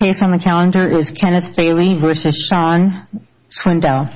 The case on the calendar is Kenneth Bailey v. Shawn Swindell.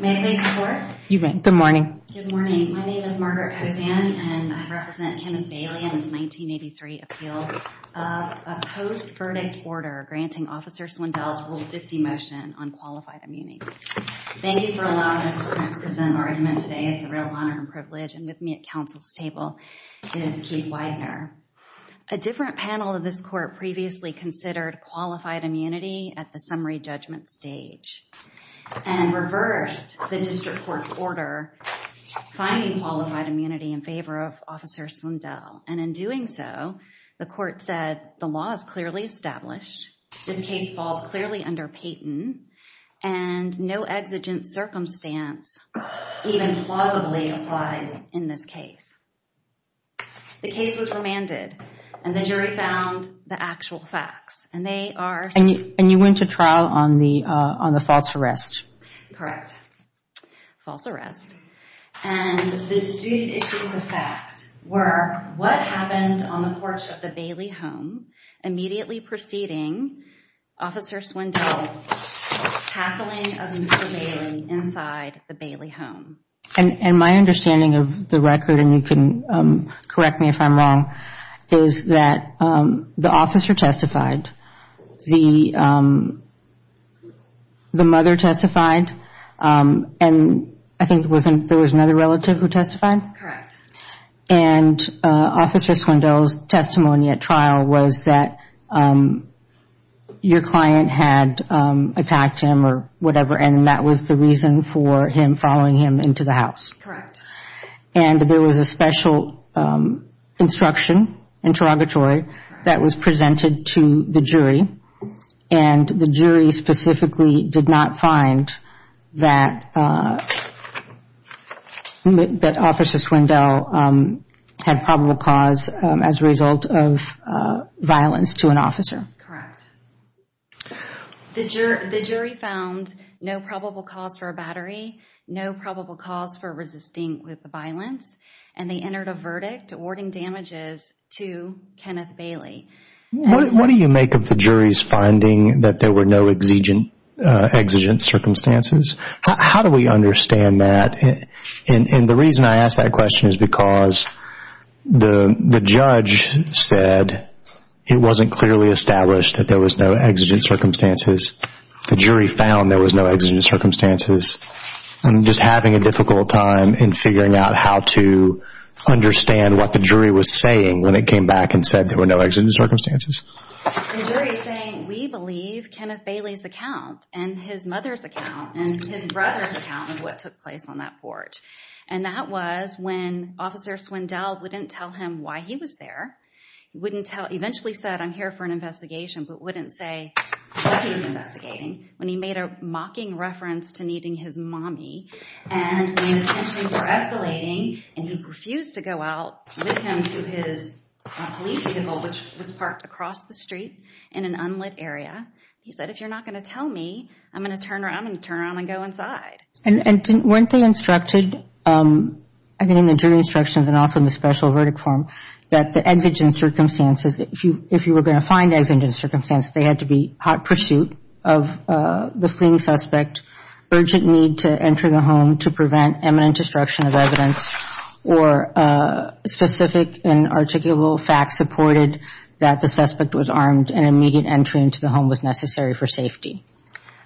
May I please report? You may. Good morning. Good morning. My name is Margaret Kosan, and I represent Kenneth Bailey in his 1983 appeal of a post-verdict order granting Officer Swindell's Rule 50 motion on qualified immunity. Thank you for allowing us to present an argument today. It's a real honor and privilege, and with me at counsel's table is Keith Widener. A different panel of this court previously considered qualified immunity at the summary of the district court's order finding qualified immunity in favor of Officer Swindell. And in doing so, the court said, the law is clearly established, this case falls clearly under Payton, and no exigent circumstance even plausibly applies in this case. The case was remanded, and the jury found the actual facts. And they are... And you went to trial on the false arrest. Correct. False arrest. And the disputed issues of fact were, what happened on the porch of the Bailey home immediately preceding Officer Swindell's tackling of Mr. Bailey inside the Bailey home? And my understanding of the record, and you can correct me if I'm wrong, is that the officer testified, the mother testified, and I think there was another relative who testified? Correct. And Officer Swindell's testimony at trial was that your client had attacked him or whatever, and that was the reason for him following him into the house? Correct. And there was a special instruction, interrogatory, that was presented to the jury, and the jury specifically did not find that Officer Swindell had probable cause as a result of violence Correct. The jury found no probable cause for a battery, no probable cause for resisting with violence, and they entered a verdict awarding damages to Kenneth Bailey. What do you make of the jury's finding that there were no exigent circumstances? How do we understand that? And the reason I ask that question is because the judge said it wasn't clearly established that there was no exigent circumstances. The jury found there was no exigent circumstances, and just having a difficult time in figuring out how to understand what the jury was saying when it came back and said there were no exigent circumstances. The jury is saying, we believe Kenneth Bailey's account, and his mother's account, and his brother's account of what took place on that porch. And that was when Officer Swindell wouldn't tell him why he was there, wouldn't tell, eventually said, I'm here for an investigation, but wouldn't say what he was investigating. When he made a mocking reference to needing his mommy, and when his tensions were escalating, and he refused to go out with him to his police vehicle, which was parked across the street in an unlit area, he said, if you're not going to tell me, I'm going to turn around and turn around and go inside. And weren't they instructed, I mean in the jury instructions and also in the special verdict form, that the exigent circumstances, if you were going to find exigent circumstances, they had to be hot pursuit of the fleeing suspect, urgent need to enter the home to prevent imminent destruction of evidence, or specific and articulable facts supported that the suspect was armed and immediate entry into the home was necessary for safety.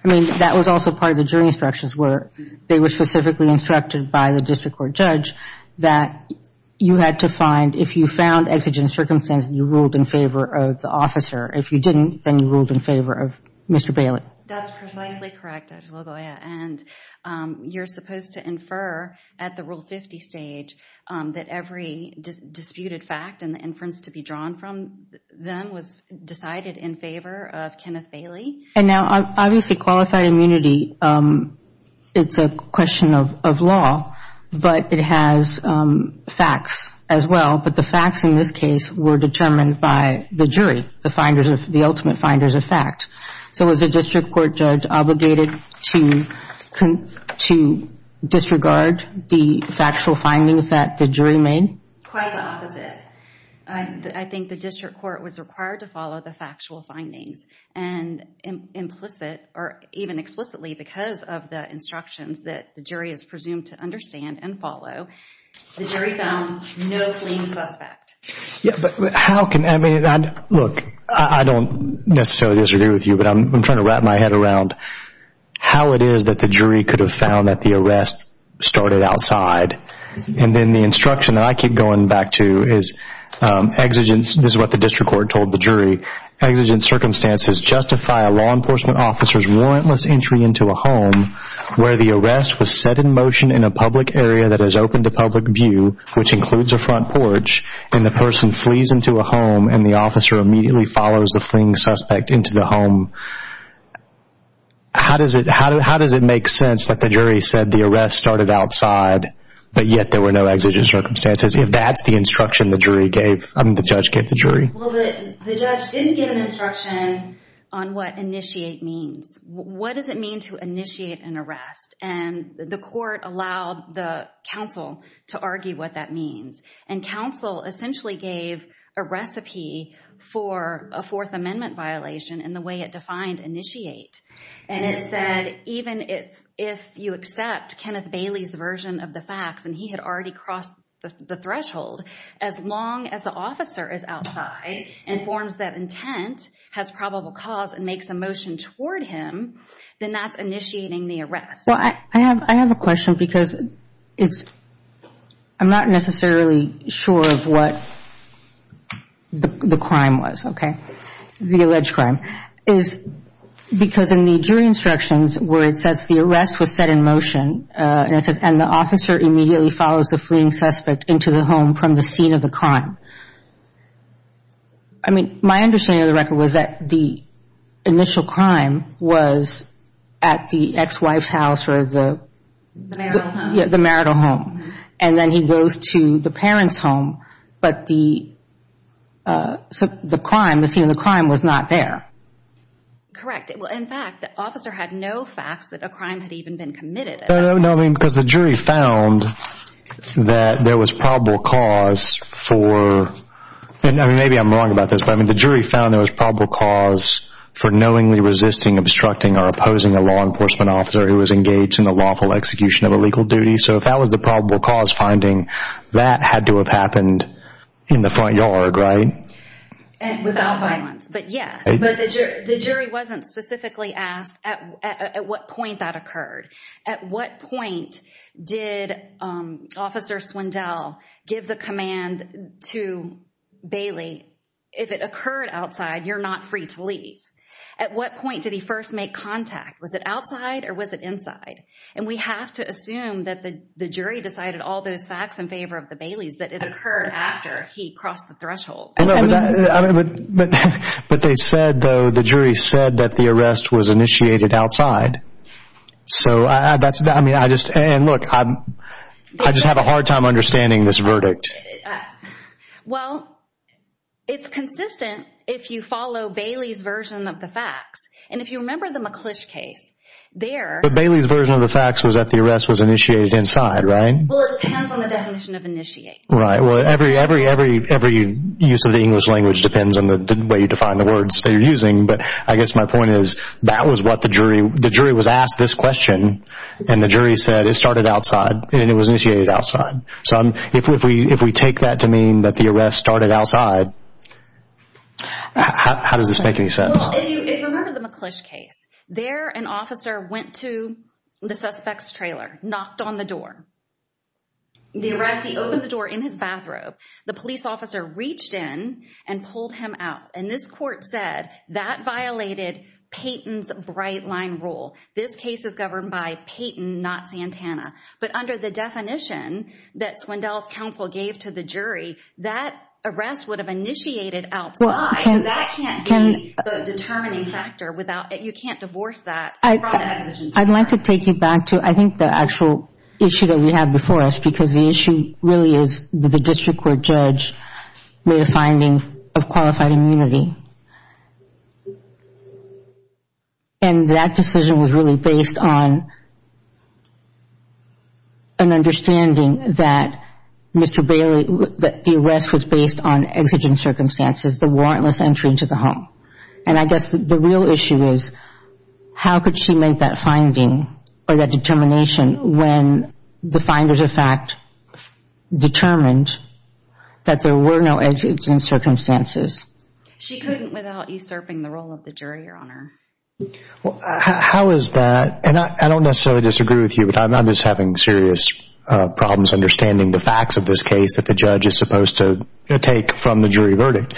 I mean, that was also part of the jury instructions where they were specifically instructed by the district court judge that you had to find, if you found exigent circumstances, you ruled in favor of the officer. If you didn't, then you ruled in favor of Mr. Bailey. That's precisely correct, Judge Lagoya. And you're supposed to infer at the Rule 50 stage that every disputed fact and the inference to be drawn from them was decided in favor of Kenneth Bailey. And now, obviously, qualified immunity, it's a question of law, but it has facts as well. But the facts in this case were determined by the jury, the ultimate finders of fact. So was the district court judge obligated to disregard the factual findings that the jury made? Quite the opposite. I think the district court was required to follow the factual findings. And implicit, or even explicitly because of the instructions that the jury is presumed to understand and follow, the jury found no fleeing suspect. Yeah, but how can, I mean, look, I don't necessarily disagree with you, but I'm trying to wrap my head around how it is that the jury could have found that the arrest started outside. And then the instruction that I keep going back to is exigent, this is what the district court told the jury. Exigent circumstances justify a law enforcement officer's warrantless entry into a home where the arrest was set in motion in a public area that is open to public view, which includes a front porch, and the person flees into a home and the officer immediately follows the fleeing suspect into the home. How does it make sense that the jury said the arrest started outside, but yet there were no exigent circumstances, if that's the instruction the jury gave, I mean, the judge gave the jury? Well, the judge didn't give an instruction on what initiate means. What does it mean to initiate an arrest? And the court allowed the counsel to argue what that means. And counsel essentially gave a recipe for a Fourth Amendment violation in the way it defined initiate. And it said, even if you accept Kenneth Bailey's version of the facts, and he had already crossed the threshold, as long as the officer is outside and informs that intent has probable cause and makes a motion toward him, then that's initiating the arrest. Well, I have a question because it's, I'm not necessarily sure of what the crime was, okay, the alleged crime, is because in the jury instructions where it says the arrest was set in motion, and the officer immediately follows the fleeing suspect into the home from the scene of the crime, I mean, my understanding of the record was that the initial crime was at the ex-wife's house or the marital home. And then he goes to the parents' home, but the crime, the scene of the crime was not there. Correct. Well, in fact, the officer had no facts that a crime had even been committed. No, I mean, because the jury found that there was probable cause for, I mean, maybe I'm wrong about this, but I mean, the jury found there was probable cause for knowingly resisting, obstructing, or opposing a law enforcement officer who was engaged in the lawful execution of a legal duty. So if that was the probable cause finding, that had to have happened in the front yard, right? Without violence. But yes. But the jury wasn't specifically asked at what point that occurred. At what point did Officer Swindell give the command to Bailey, if it occurred outside, you're not free to leave. At what point did he first make contact? Was it outside or was it inside? And we have to assume that the jury decided all those facts in favor of the Bailey's, that it occurred after he crossed the threshold. But they said, though, the jury said that the arrest was initiated outside. So that's, I mean, I just, and look, I just have a hard time understanding this verdict. Well, it's consistent if you follow Bailey's version of the facts. And if you remember the McClish case, there- But Bailey's version of the facts was that the arrest was initiated inside, right? Well, it depends on the definition of initiate. Right. Well, every use of the English language depends on the way you define the words that you're using. But I guess my point is, that was what the jury, the jury was asked this question and the jury said it started outside and it was initiated outside. So if we take that to mean that the arrest started outside, how does this make any sense? Well, if you remember the McClish case, there an officer went to the suspect's trailer, knocked on the door. The arrest, he opened the door in his bathrobe. The police officer reached in and pulled him out. And this court said that violated Payton's bright line rule. This case is governed by Payton, not Santana. But under the definition that Swindell's counsel gave to the jury, that arrest would have initiated outside. Well, can- That can't be the determining factor without, you can't divorce that from the exigence of the crime. I'd like to take you back to, I think, the actual issue that we have before us because the issue really is that the district court judge made a finding of qualified immunity. And that decision was really based on an understanding that Mr. Bailey, that the arrest was based on exigent circumstances, the warrantless entry into the home. And I guess the real issue is, how could she make that finding or that determination when the finders of fact determined that there were no exigent circumstances? She couldn't without usurping the role of the jury, Your Honor. How is that? And I don't necessarily disagree with you, but I'm just having serious problems understanding the facts of this case that the judge is supposed to take from the jury verdict.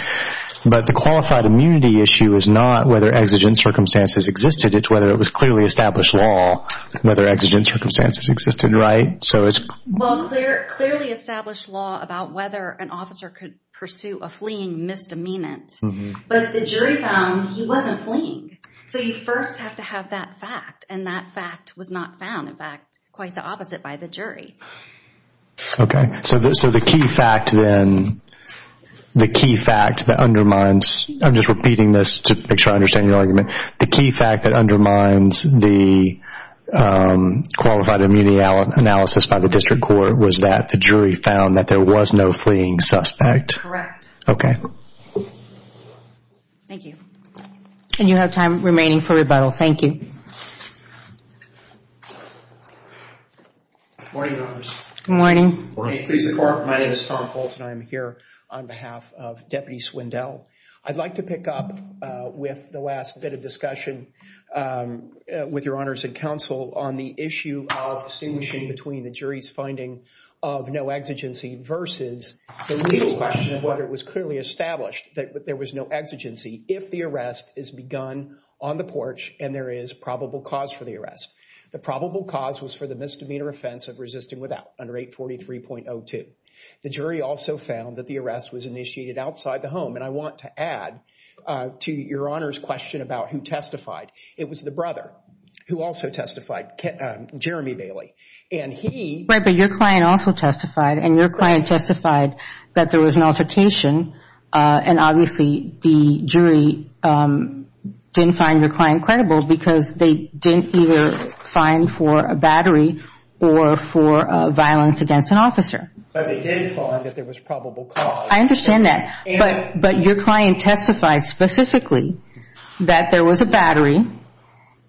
But the qualified immunity issue is not whether exigent circumstances existed, it's whether it was clearly established law, whether exigent circumstances existed, right? So it's- Well, clearly established law about whether an officer could pursue a fleeing misdemeanant. But the jury found he wasn't fleeing. So you first have to have that fact. And that fact was not found. In fact, quite the opposite by the jury. Okay. So the key fact then, the key fact that undermines, I'm just repeating this to make sure I understand your argument. The key fact that undermines the qualified immunity analysis by the district court was that the jury found that there was no fleeing suspect? Correct. Okay. Thank you. And you have time remaining for rebuttal. Thank you. Good morning, Your Honors. Good morning. Good morning. Please report. My name is Tom Fulton. I'm here on behalf of Deputy Swindell. I'd like to pick up with the last bit of discussion with Your Honors and counsel on the issue of distinguishing between the jury's finding of no exigency versus the legal question of whether it was clearly established that there was no exigency if the arrest is begun on the porch and there is probable cause for the arrest. The probable cause was for the misdemeanor offense of resisting without under 843.02. The jury also found that the arrest was initiated outside the home. And I want to add to Your Honors' question about who testified. It was the brother who also testified, Jeremy Bailey. And he... Right, but your client also testified and your client testified that there was an altercation and obviously the jury didn't find your client credible because they didn't either find for a battery or for violence against an officer. But they did find that there was probable cause. I understand that, but your client testified specifically that there was a battery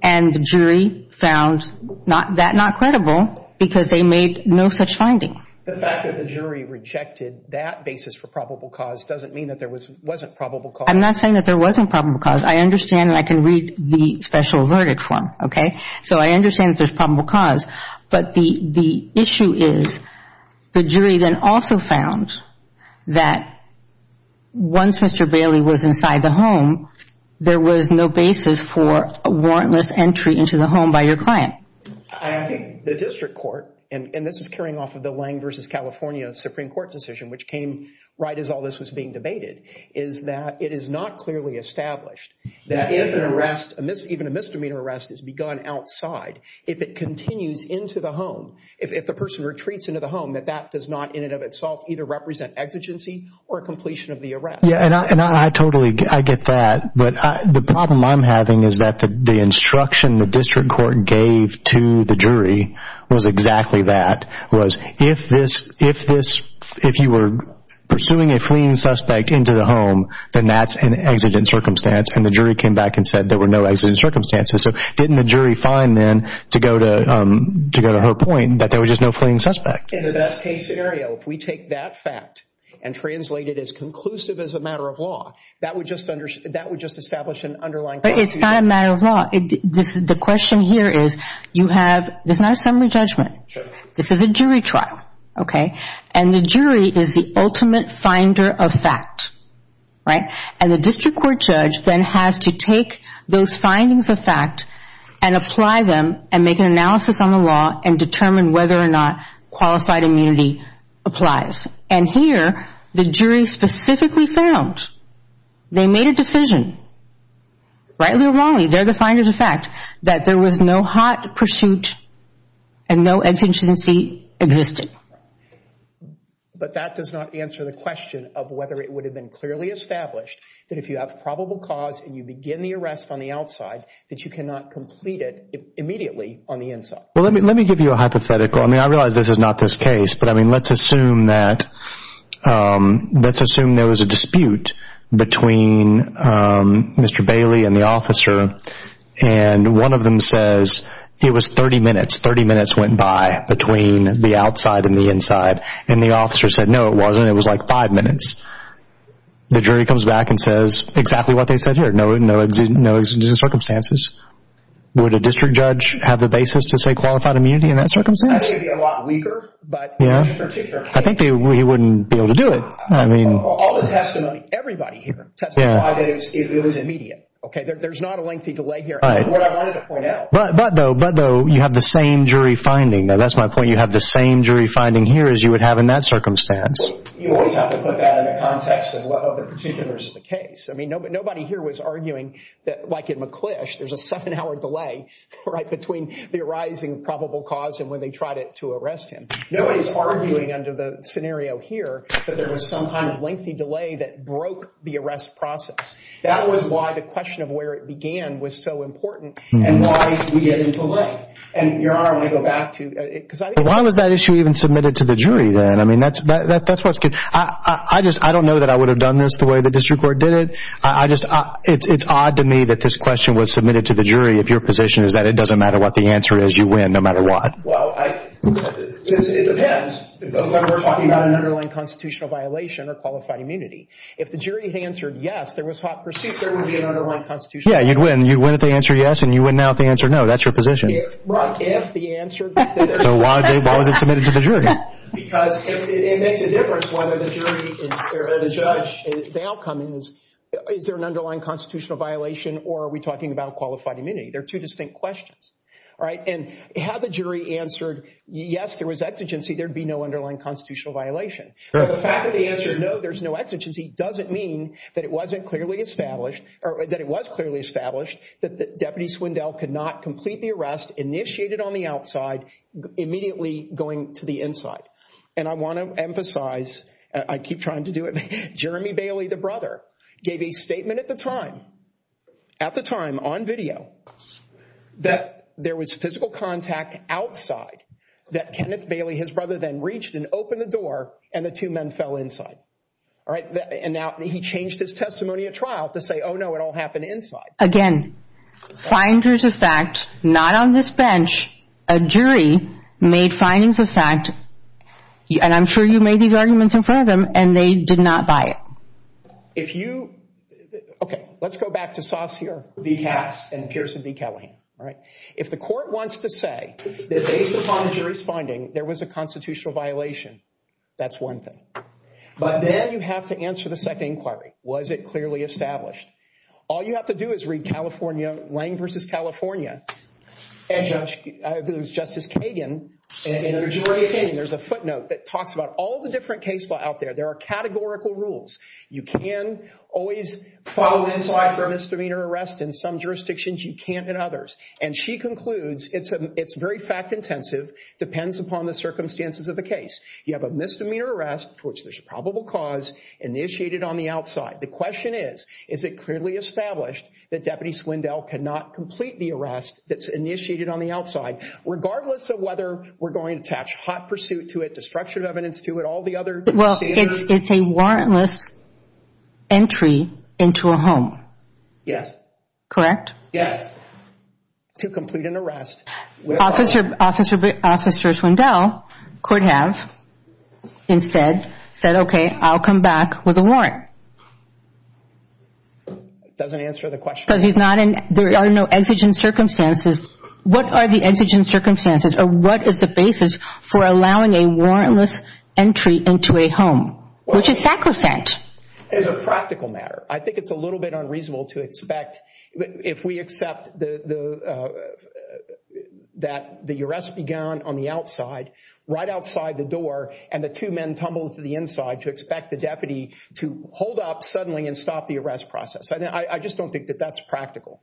and the jury found that not credible because they made no such finding. The fact that the jury rejected that basis for probable cause doesn't mean that there wasn't probable cause. I'm not saying that there wasn't probable cause. I understand and I can read the special verdict form, okay? So I understand that there's probable cause. But the issue is the jury then also found that once Mr. Bailey was inside the home, there was no basis for a warrantless entry into the home by your client. I think the district court, and this is carrying off of the Lang versus California Supreme Court decision, which came right as all this was being debated, is that it is not clearly established that if an arrest, even a misdemeanor arrest, is begun outside, if it continues into the home, if the person retreats into the home, that that does not in and of itself either represent exigency or completion of the arrest. Yeah, and I totally get that. But the problem I'm having is that the instruction the district court gave to the jury was exactly that, was if you were pursuing a fleeing suspect into the home, then that's an exigent circumstance. And the jury came back and said there were no exigent circumstances. So didn't the jury find then, to go to her point, that there was just no fleeing suspect? In the best case scenario, if we take that fact and translate it as conclusive as a matter of law, that would just establish an underlying conclusion. But it's not a matter of law. The question here is, you have, this is not a summary judgment. This is a jury trial, okay? And the jury is the ultimate finder of fact, right? And the district court judge then has to take those findings of fact and apply them and make an analysis on the law and determine whether or not qualified immunity applies. And here, the jury specifically found, they made a decision, rightly or wrongly, they're the finders of fact, that there was no hot pursuit and no exigency existed. But that does not answer the question of whether it would have been clearly established that if you have probable cause and you begin the arrest on the outside, that you cannot complete it immediately on the inside. Well, let me give you a hypothetical. I mean, I realize this is not this case, but I mean, let's assume that, let's assume there was a dispute between Mr. Bailey and the officer and one of them says, it was 30 minutes, 30 minutes went by between the outside and the inside, and the officer said, no, it wasn't, it was like five minutes. The jury comes back and says, exactly what they said here, no exigent circumstances. Would a district judge have the basis to say qualified immunity in that circumstance? That would be a lot weaker, but in this particular case. I think he wouldn't be able to do it. I mean. All the testimony, everybody here testified that it was immediate. Okay, there's not a lengthy delay here. Right. But what I wanted to point out. But though, you have the same jury finding. That's my point. You have the same jury finding here as you would have in that circumstance. You always have to put that in the context of what other particulars of the case. I mean, nobody here was arguing that, like in McClish, there's a seven hour delay, right, between the arising probable cause and when they tried it to arrest him. Nobody's arguing under the scenario here that there was some kind of lengthy delay that broke the arrest process. That was why the question of where it began was so important and why we get a delay. And, Your Honor, I want to go back to. Why was that issue even submitted to the jury then? I mean, that's what's good. I just, I don't know that I would have done this the way the district court did it. I just, it's odd to me that this question was submitted to the jury. If your position is that it doesn't matter what the answer is, you win no matter what. Well, it depends. It's like we're talking about an underlying constitutional violation or qualified immunity. If the jury had answered yes, there was hot pursuit. There would be an underlying constitutional violation. Yeah, you'd win. You'd win if they answer yes and you win now if they answer no. Right. If the answer. So why was it submitted to the jury? Because it makes a difference whether the jury or the judge, the outcome is, is there an underlying constitutional violation or are we talking about qualified immunity? They're two distinct questions. All right. And had the jury answered yes, there was exigency, there'd be no underlying constitutional violation. The fact that the answer no, there's no exigency, doesn't mean that it wasn't clearly established, or that it was clearly established that Deputy Swindell could not complete the arrest, initiated on the outside, immediately going to the inside. And I want to emphasize, I keep trying to do it, Jeremy Bailey, the brother, gave a statement at the time, at the time, on video, that there was physical contact outside that Kenneth Bailey, his brother, then reached and opened the door and the two men fell inside. All right. And now he changed his testimony at trial to say, oh, no, it all happened inside. Again, finders of fact, not on this bench. A jury made findings of fact, and I'm sure you made these arguments in front of them, and they did not buy it. If you, okay, let's go back to Saucier v. Katz and Pearson v. Callahan. All right. If the court wants to say that based upon the jury's finding, there was a constitutional violation, that's one thing. But then you have to answer the second inquiry. Was it clearly established? All you have to do is read California, Lange v. California, and there's Justice Kagan, and there's a footnote that talks about all the different case law out there. There are categorical rules. You can always follow inside for a misdemeanor arrest in some jurisdictions. You can't in others. And she concludes, it's very fact intensive, depends upon the circumstances of the case. You have a misdemeanor arrest for which there's a probable cause initiated on the outside. The question is, is it clearly established that Deputy Swindell cannot complete the arrest that's initiated on the outside, regardless of whether we're going to attach hot pursuit to it, destructive evidence to it, all the other standards? Well, it's a warrantless entry into a home. Yes. Correct? Yes. To complete an arrest. Officers Swindell could have instead said, okay, I'll come back with a warrant. It doesn't answer the question. Because there are no exigent circumstances. What are the exigent circumstances, or what is the basis for allowing a warrantless entry into a home, which is sacrosanct? It's a practical matter. I think it's a little bit unreasonable to expect, if we accept that the arrest began on the outside, right outside the door, and the two men tumbled to the inside, to expect the deputy to hold up suddenly and stop the arrest process. I just don't think that that's practical.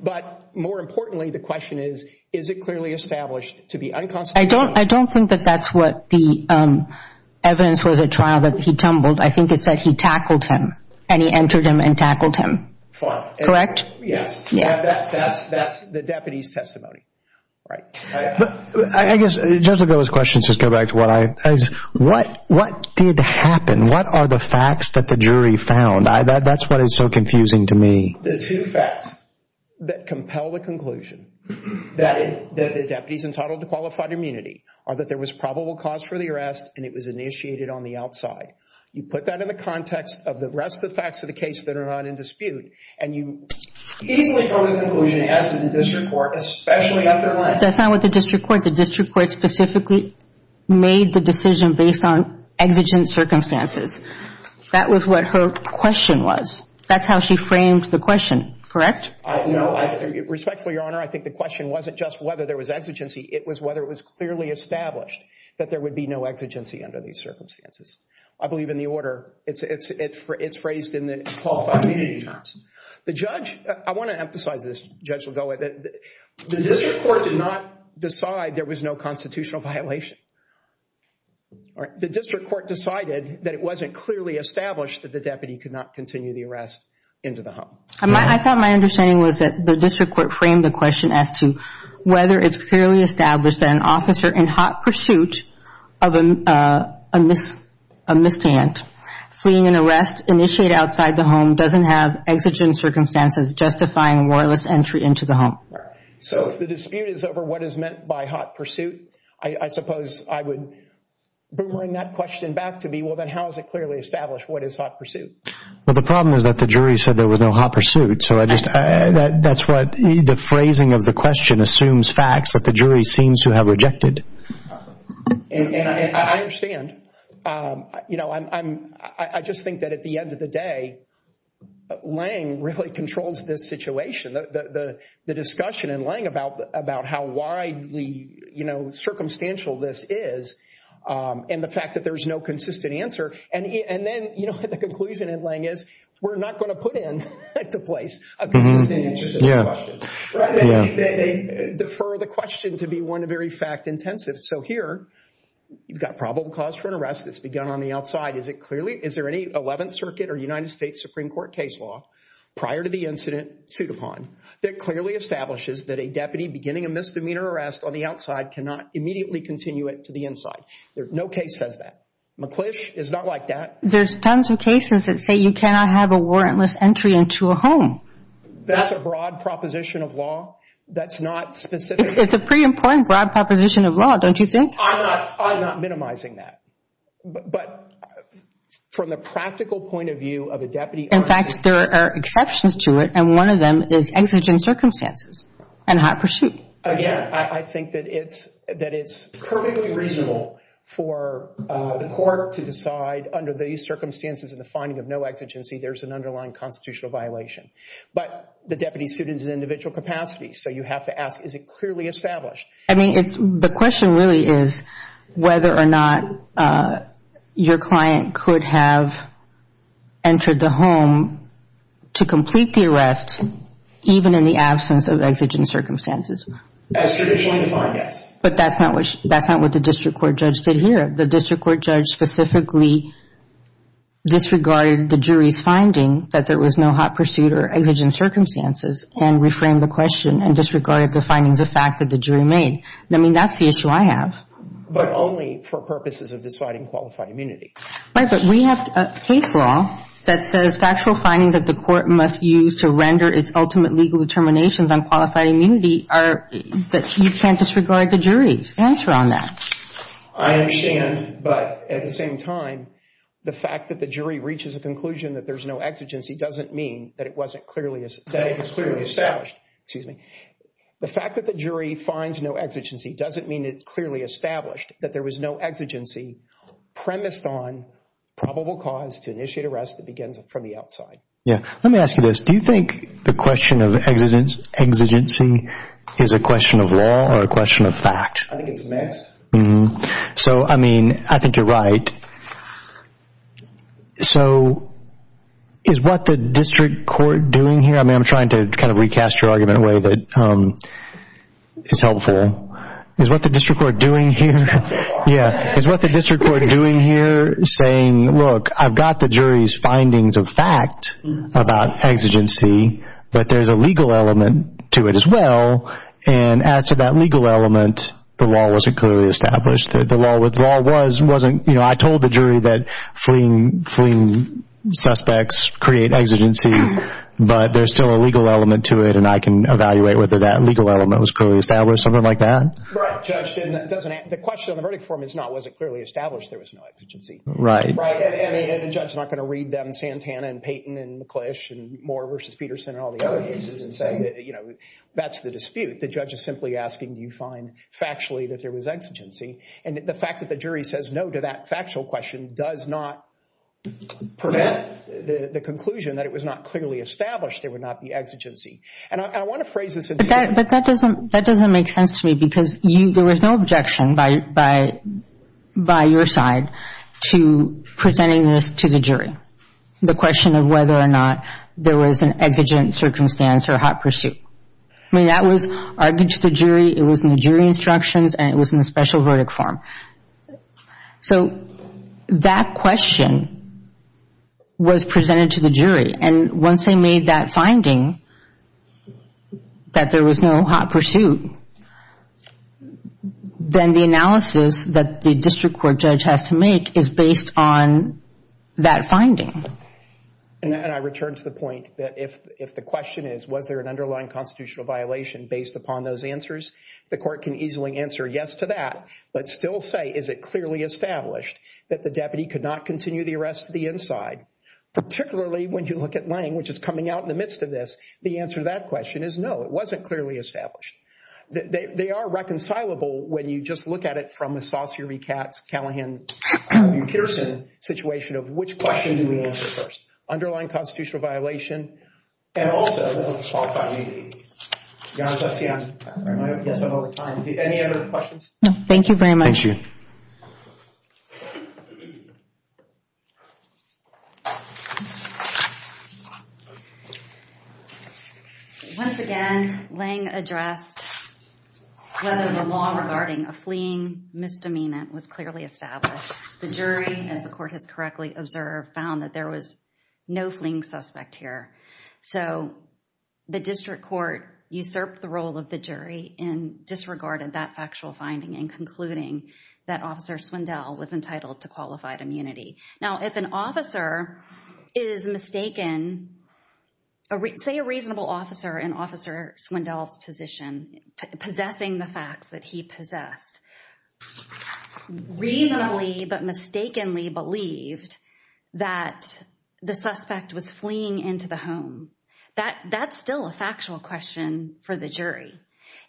But more importantly, the question is, is it clearly established to be unconstitutional? I don't think that that's what the evidence was at trial, that he tumbled. I think it said he tackled him, and he entered him and tackled him. Fine. Correct? Yes. That's the deputy's testimony. Right. I guess, just to go to those questions, just go back to what I, what did happen? What are the facts that the jury found? That's what is so confusing to me. The two facts that compel the conclusion that the deputy's entitled to qualified immunity are that there was probable cause for the arrest, and it was initiated on the outside. You put that in the context of the rest of the facts of the case that are not in dispute, and you easily draw the conclusion, as did the district court, especially after lynching. That's not what the district court, the district court specifically made the decision based on exigent circumstances. That was what her question was. That's how she framed the question. Correct? No. Respectfully, Your Honor, I think the question wasn't just whether there was exigency. It was whether it was clearly established that there would be no exigency under these circumstances. I believe in the order. It's phrased in the qualified immunity terms. The judge, I want to emphasize this. The judge will go with it. The district court did not decide there was no constitutional violation. The district court decided that it wasn't clearly established that the deputy could not continue the arrest into the home. I thought my understanding was that the district court framed the question as to whether it's clearly established that an officer in hot pursuit of a mishand, fleeing an arrest initiated outside the home, doesn't have exigent circumstances justifying lawless entry into the home. So if the dispute is over what is meant by hot pursuit, I suppose I would bring that question back to me. Well, then how is it clearly established what is hot pursuit? Well, the problem is that the jury said there was no hot pursuit. That's what the phrasing of the question assumes facts that the jury seems to have rejected. I understand. I just think that at the end of the day, Lange really controls this situation. The discussion in Lange about how widely circumstantial this is and the fact that there's no consistent answer. And then the conclusion in Lange is we're not going to put into place a consistent answer to this question. They defer the question to be one of very fact intensive. So here you've got probable cause for an arrest that's begun on the outside. Is there any 11th Circuit or United States Supreme Court case law prior to the incident sued upon that clearly establishes that a deputy beginning a misdemeanor arrest on the outside cannot immediately continue it to the inside? No case says that. McClish is not like that. There's tons of cases that say you cannot have a warrantless entry into a home. That's a broad proposition of law. That's not specific. It's a pretty important broad proposition of law, don't you think? I'm not minimizing that. But from the practical point of view of a deputy arrest. In fact, there are exceptions to it. And one of them is exigent circumstances and hot pursuit. Again, I think that it's perfectly reasonable for the court to decide under these circumstances and the finding of no exigency there's an underlying constitutional violation. But the deputy's suit is in individual capacity. So you have to ask, is it clearly established? I mean, the question really is whether or not your client could have entered the home to complete the arrest even in the absence of exigent circumstances. As traditionally defined, yes. But that's not what the district court judge did here. The district court judge specifically disregarded the jury's finding that there was no hot pursuit or exigent circumstances and reframed the question and disregarded the findings of fact that the jury made. I mean, that's the issue I have. But only for purposes of deciding qualified immunity. Right, but we have case law that says factual finding that the court must use to render its ultimate legal determinations on qualified immunity are that you can't disregard the jury's answer on that. I understand, but at the same time, the fact that the jury reaches a conclusion that there's no exigency doesn't mean that it wasn't clearly established. The fact that the jury finds no exigency doesn't mean it's clearly established that there was no exigency premised on probable cause to initiate arrest that begins from the outside. Yeah, let me ask you this. Do you think the question of exigency is a question of law or a question of fact? I think it's mixed. So, I mean, I think you're right. So is what the district court doing here? I mean, I'm trying to kind of recast your argument in a way that is helpful. Is what the district court doing here saying, look, I've got the jury's findings of fact about exigency, but there's a legal element to it as well, and as to that legal element, the law wasn't clearly established. The law wasn't, you know, I told the jury that fleeing suspects create exigency, but there's still a legal element to it, and I can evaluate whether that legal element was clearly established, something like that? Right. The question on the verdict form is not was it clearly established there was no exigency. Right. And the judge is not going to read them Santana and Payton and McClish and Moore versus Peterson and all the other cases and say, you know, that's the dispute. The judge is simply asking do you find factually that there was exigency, and the fact that the jury says no to that factual question does not prevent the conclusion that it was not clearly established there would not be exigency. And I want to phrase this. But that doesn't make sense to me because there was no objection by your side to presenting this to the jury, the question of whether or not there was an exigent circumstance or hot pursuit. I mean, that was argued to the jury, it was in the jury instructions, and it was in the special verdict form. So that question was presented to the jury, and once they made that finding that there was no hot pursuit, then the analysis that the district court judge has to make is based on that finding. And I return to the point that if the question is was there an underlying constitutional violation based upon those answers, the court can easily answer yes to that but still say is it clearly established Particularly when you look at Lange, which is coming out in the midst of this, the answer to that question is no, it wasn't clearly established. They are reconcilable when you just look at it from a Saussure-Katz, Callahan-Peterson situation of which question do we answer first, underlying constitutional violation, and also the qualified meeting. Your Honor, does that answer your question? I guess I'm over time. Any other questions? No, thank you very much. Thank you. Once again, Lange addressed whether the law regarding a fleeing misdemeanor was clearly established. The jury, as the court has correctly observed, found that there was no fleeing suspect here. So the district court usurped the role of the jury and disregarded that factual finding in concluding that Officer Swindell was entitled to qualified immunity. Now, if an officer is mistaken, say a reasonable officer in Officer Swindell's position, possessing the facts that he possessed, reasonably but mistakenly believed that the suspect was fleeing into the home, that's still a factual question for the jury.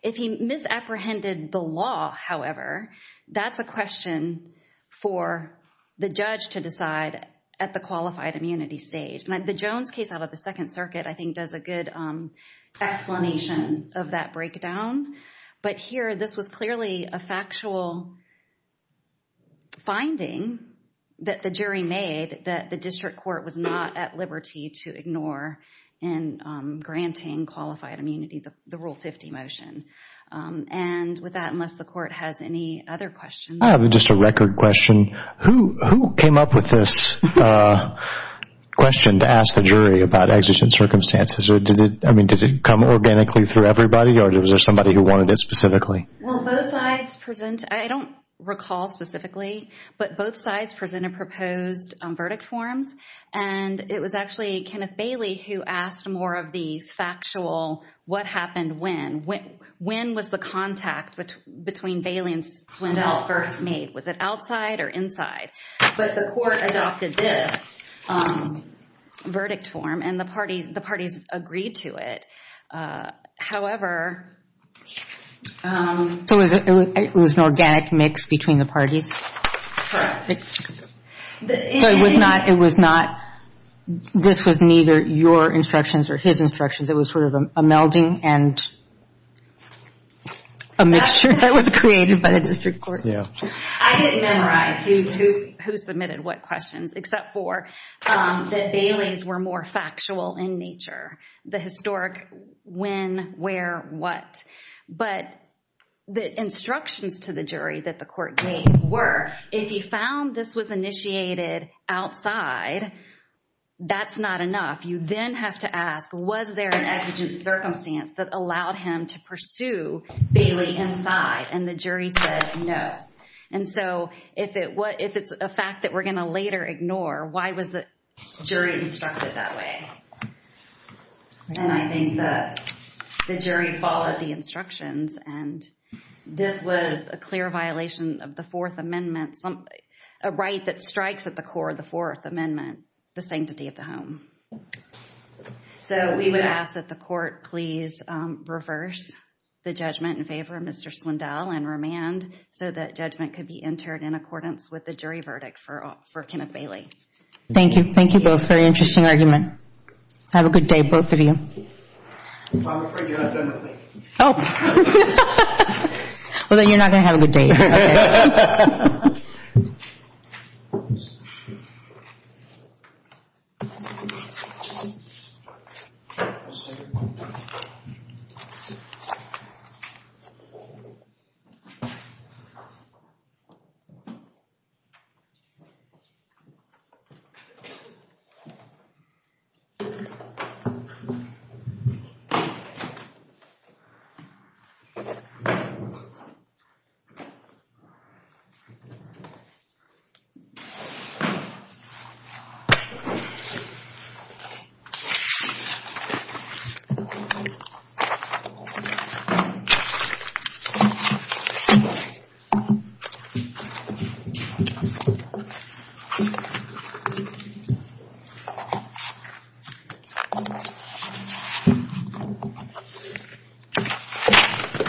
If he misapprehended the law, however, that's a question for the judge to decide at the qualified immunity stage. The Jones case out of the Second Circuit, I think, does a good explanation of that breakdown. But here, this was clearly a factual finding that the jury made that the district court was not at liberty to ignore in granting qualified immunity, the Rule 50 motion. And with that, unless the court has any other questions. I have just a record question. Who came up with this question to ask the jury about exigent circumstances? I mean, did it come organically through everybody, or was there somebody who wanted it specifically? Well, both sides present. I don't recall specifically, but both sides presented proposed verdict forms. And it was actually Kenneth Bailey who asked more of the factual what happened when. When was the contact between Bailey and Swindell first made? Was it outside or inside? But the court adopted this verdict form, and the parties agreed to it. However— So it was an organic mix between the parties? Correct. So it was not—this was neither your instructions or his instructions. It was sort of a melding and a mixture that was created by the district court. Yeah. I didn't memorize who submitted what questions, except for that Bailey's were more factual in nature. The historic when, where, what. But the instructions to the jury that the court gave were, if you found this was initiated outside, that's not enough. You then have to ask, was there an exigent circumstance that allowed him to pursue Bailey inside? And the jury said no. And so if it's a fact that we're going to later ignore, why was the jury instructed that way? And I think the jury followed the instructions, and this was a clear violation of the Fourth Amendment, a right that strikes at the core of the Fourth Amendment, the sanctity of the home. So we would ask that the court please reverse the judgment in favor of Mr. Slendell and remand so that judgment could be entered in accordance with the jury verdict for Kenneth Bailey. Thank you. Thank you both. Very interesting argument. Have a good day, both of you. I'm afraid you're not done with me. Oh. Well, then you're not going to have a good day. Okay. Thank you.